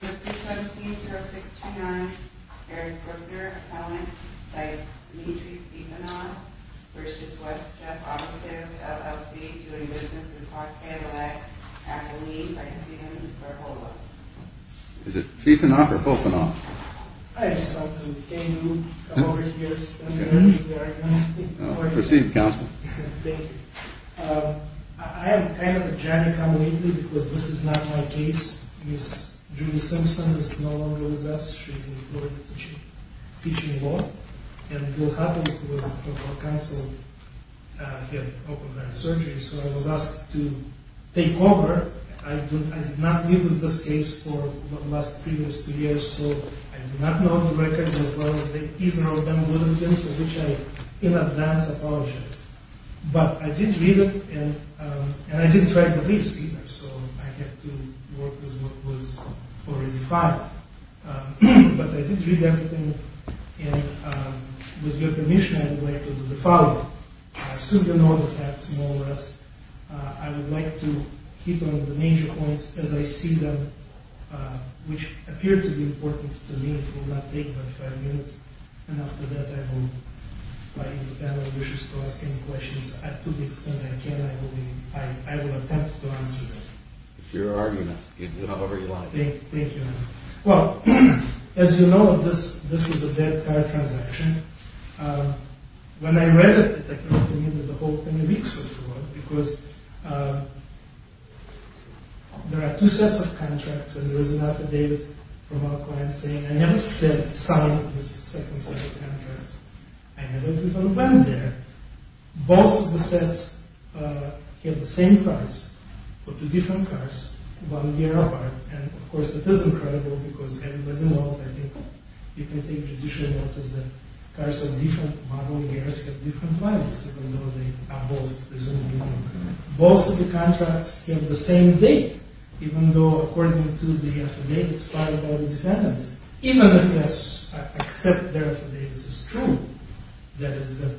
Mr. 17-0629, Eric Brooker, appellant, v. Dmitry Fifanoff, v. West Jeff Auto Sales, LLC, doing business with Hawk Cadillac, at the lead by Steven Berhola. Is it Fifanoff or Fofanoff? I just want to thank you for coming over here to spend the rest of your morning. Proceed, Counselor. Thank you. I have kind of a jammy time lately because this is not my case. Ms. Julie Simpson is no longer with us. She's employed to teach law. And Bill Hutton, who was in front of our counsel, he had open-ended surgery. So I was asked to take over. I did not deal with this case for the last previous two years. So I do not know the record as well as the ease and all the other things for which I in advance apologize. But I did read it, and I didn't write the briefs either, so I had to work with what was already filed. But I did read everything, and with your permission, I would like to do the following. I assume you know the facts more or less. I would like to keep on the major points as I see them, which appear to be important to me. It will not take but five minutes. And after that, if the panel wishes to ask any questions, to the extent that I can, I will attempt to answer them. It's your argument. You can do it however you like. Thank you. Well, as you know, this is a dead-card transaction. When I read it, it took me the whole many weeks of work because there are two sets of contracts, and there was an affidavit from our client saying, I never signed this second set of contracts. I never even went there. Both of the sets have the same price for two different cars, one year apart. And of course, it is incredible because everybody knows, I think you can take traditional notes, that cars of different model years have different prices, even though they are both presumably the same. Both of the contracts have the same date, even though according to the affidavits filed by the defendants, even if they accept their affidavits as true, that is that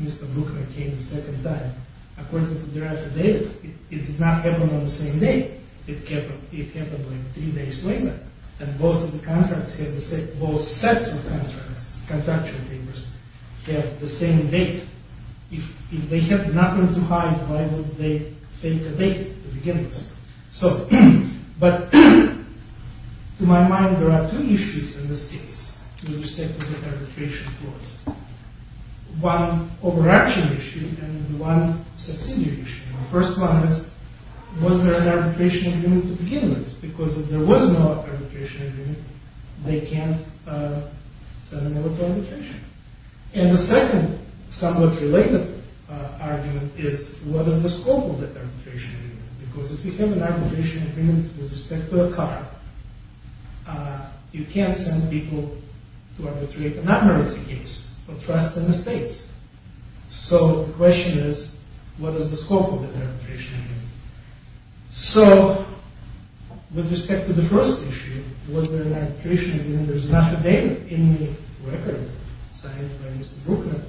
Mr. Bruckner came the second time, according to their affidavits, it did not happen on the same day. It happened like three days later. And both of the contracts have the same, both sets of contracts, contractual papers, have the same date. If they have nothing to hide, why would they fake a date to begin with? So, but to my mind, there are two issues in this case with respect to the arbitration clause. One over-action issue and one subsidiary issue. The first one is, was there an arbitration agreement to begin with? Because if there was no arbitration agreement, they can't send a note to arbitration. And the second somewhat related argument is, what is the scope of that arbitration agreement? Because if you have an arbitration agreement with respect to a car, you can't send people to arbitrate a nonmergency case of trust in the states. So the question is, what is the scope of that arbitration agreement? So with respect to the first issue, was there an arbitration agreement? There's not a date in the record signed by Mr. Brookner.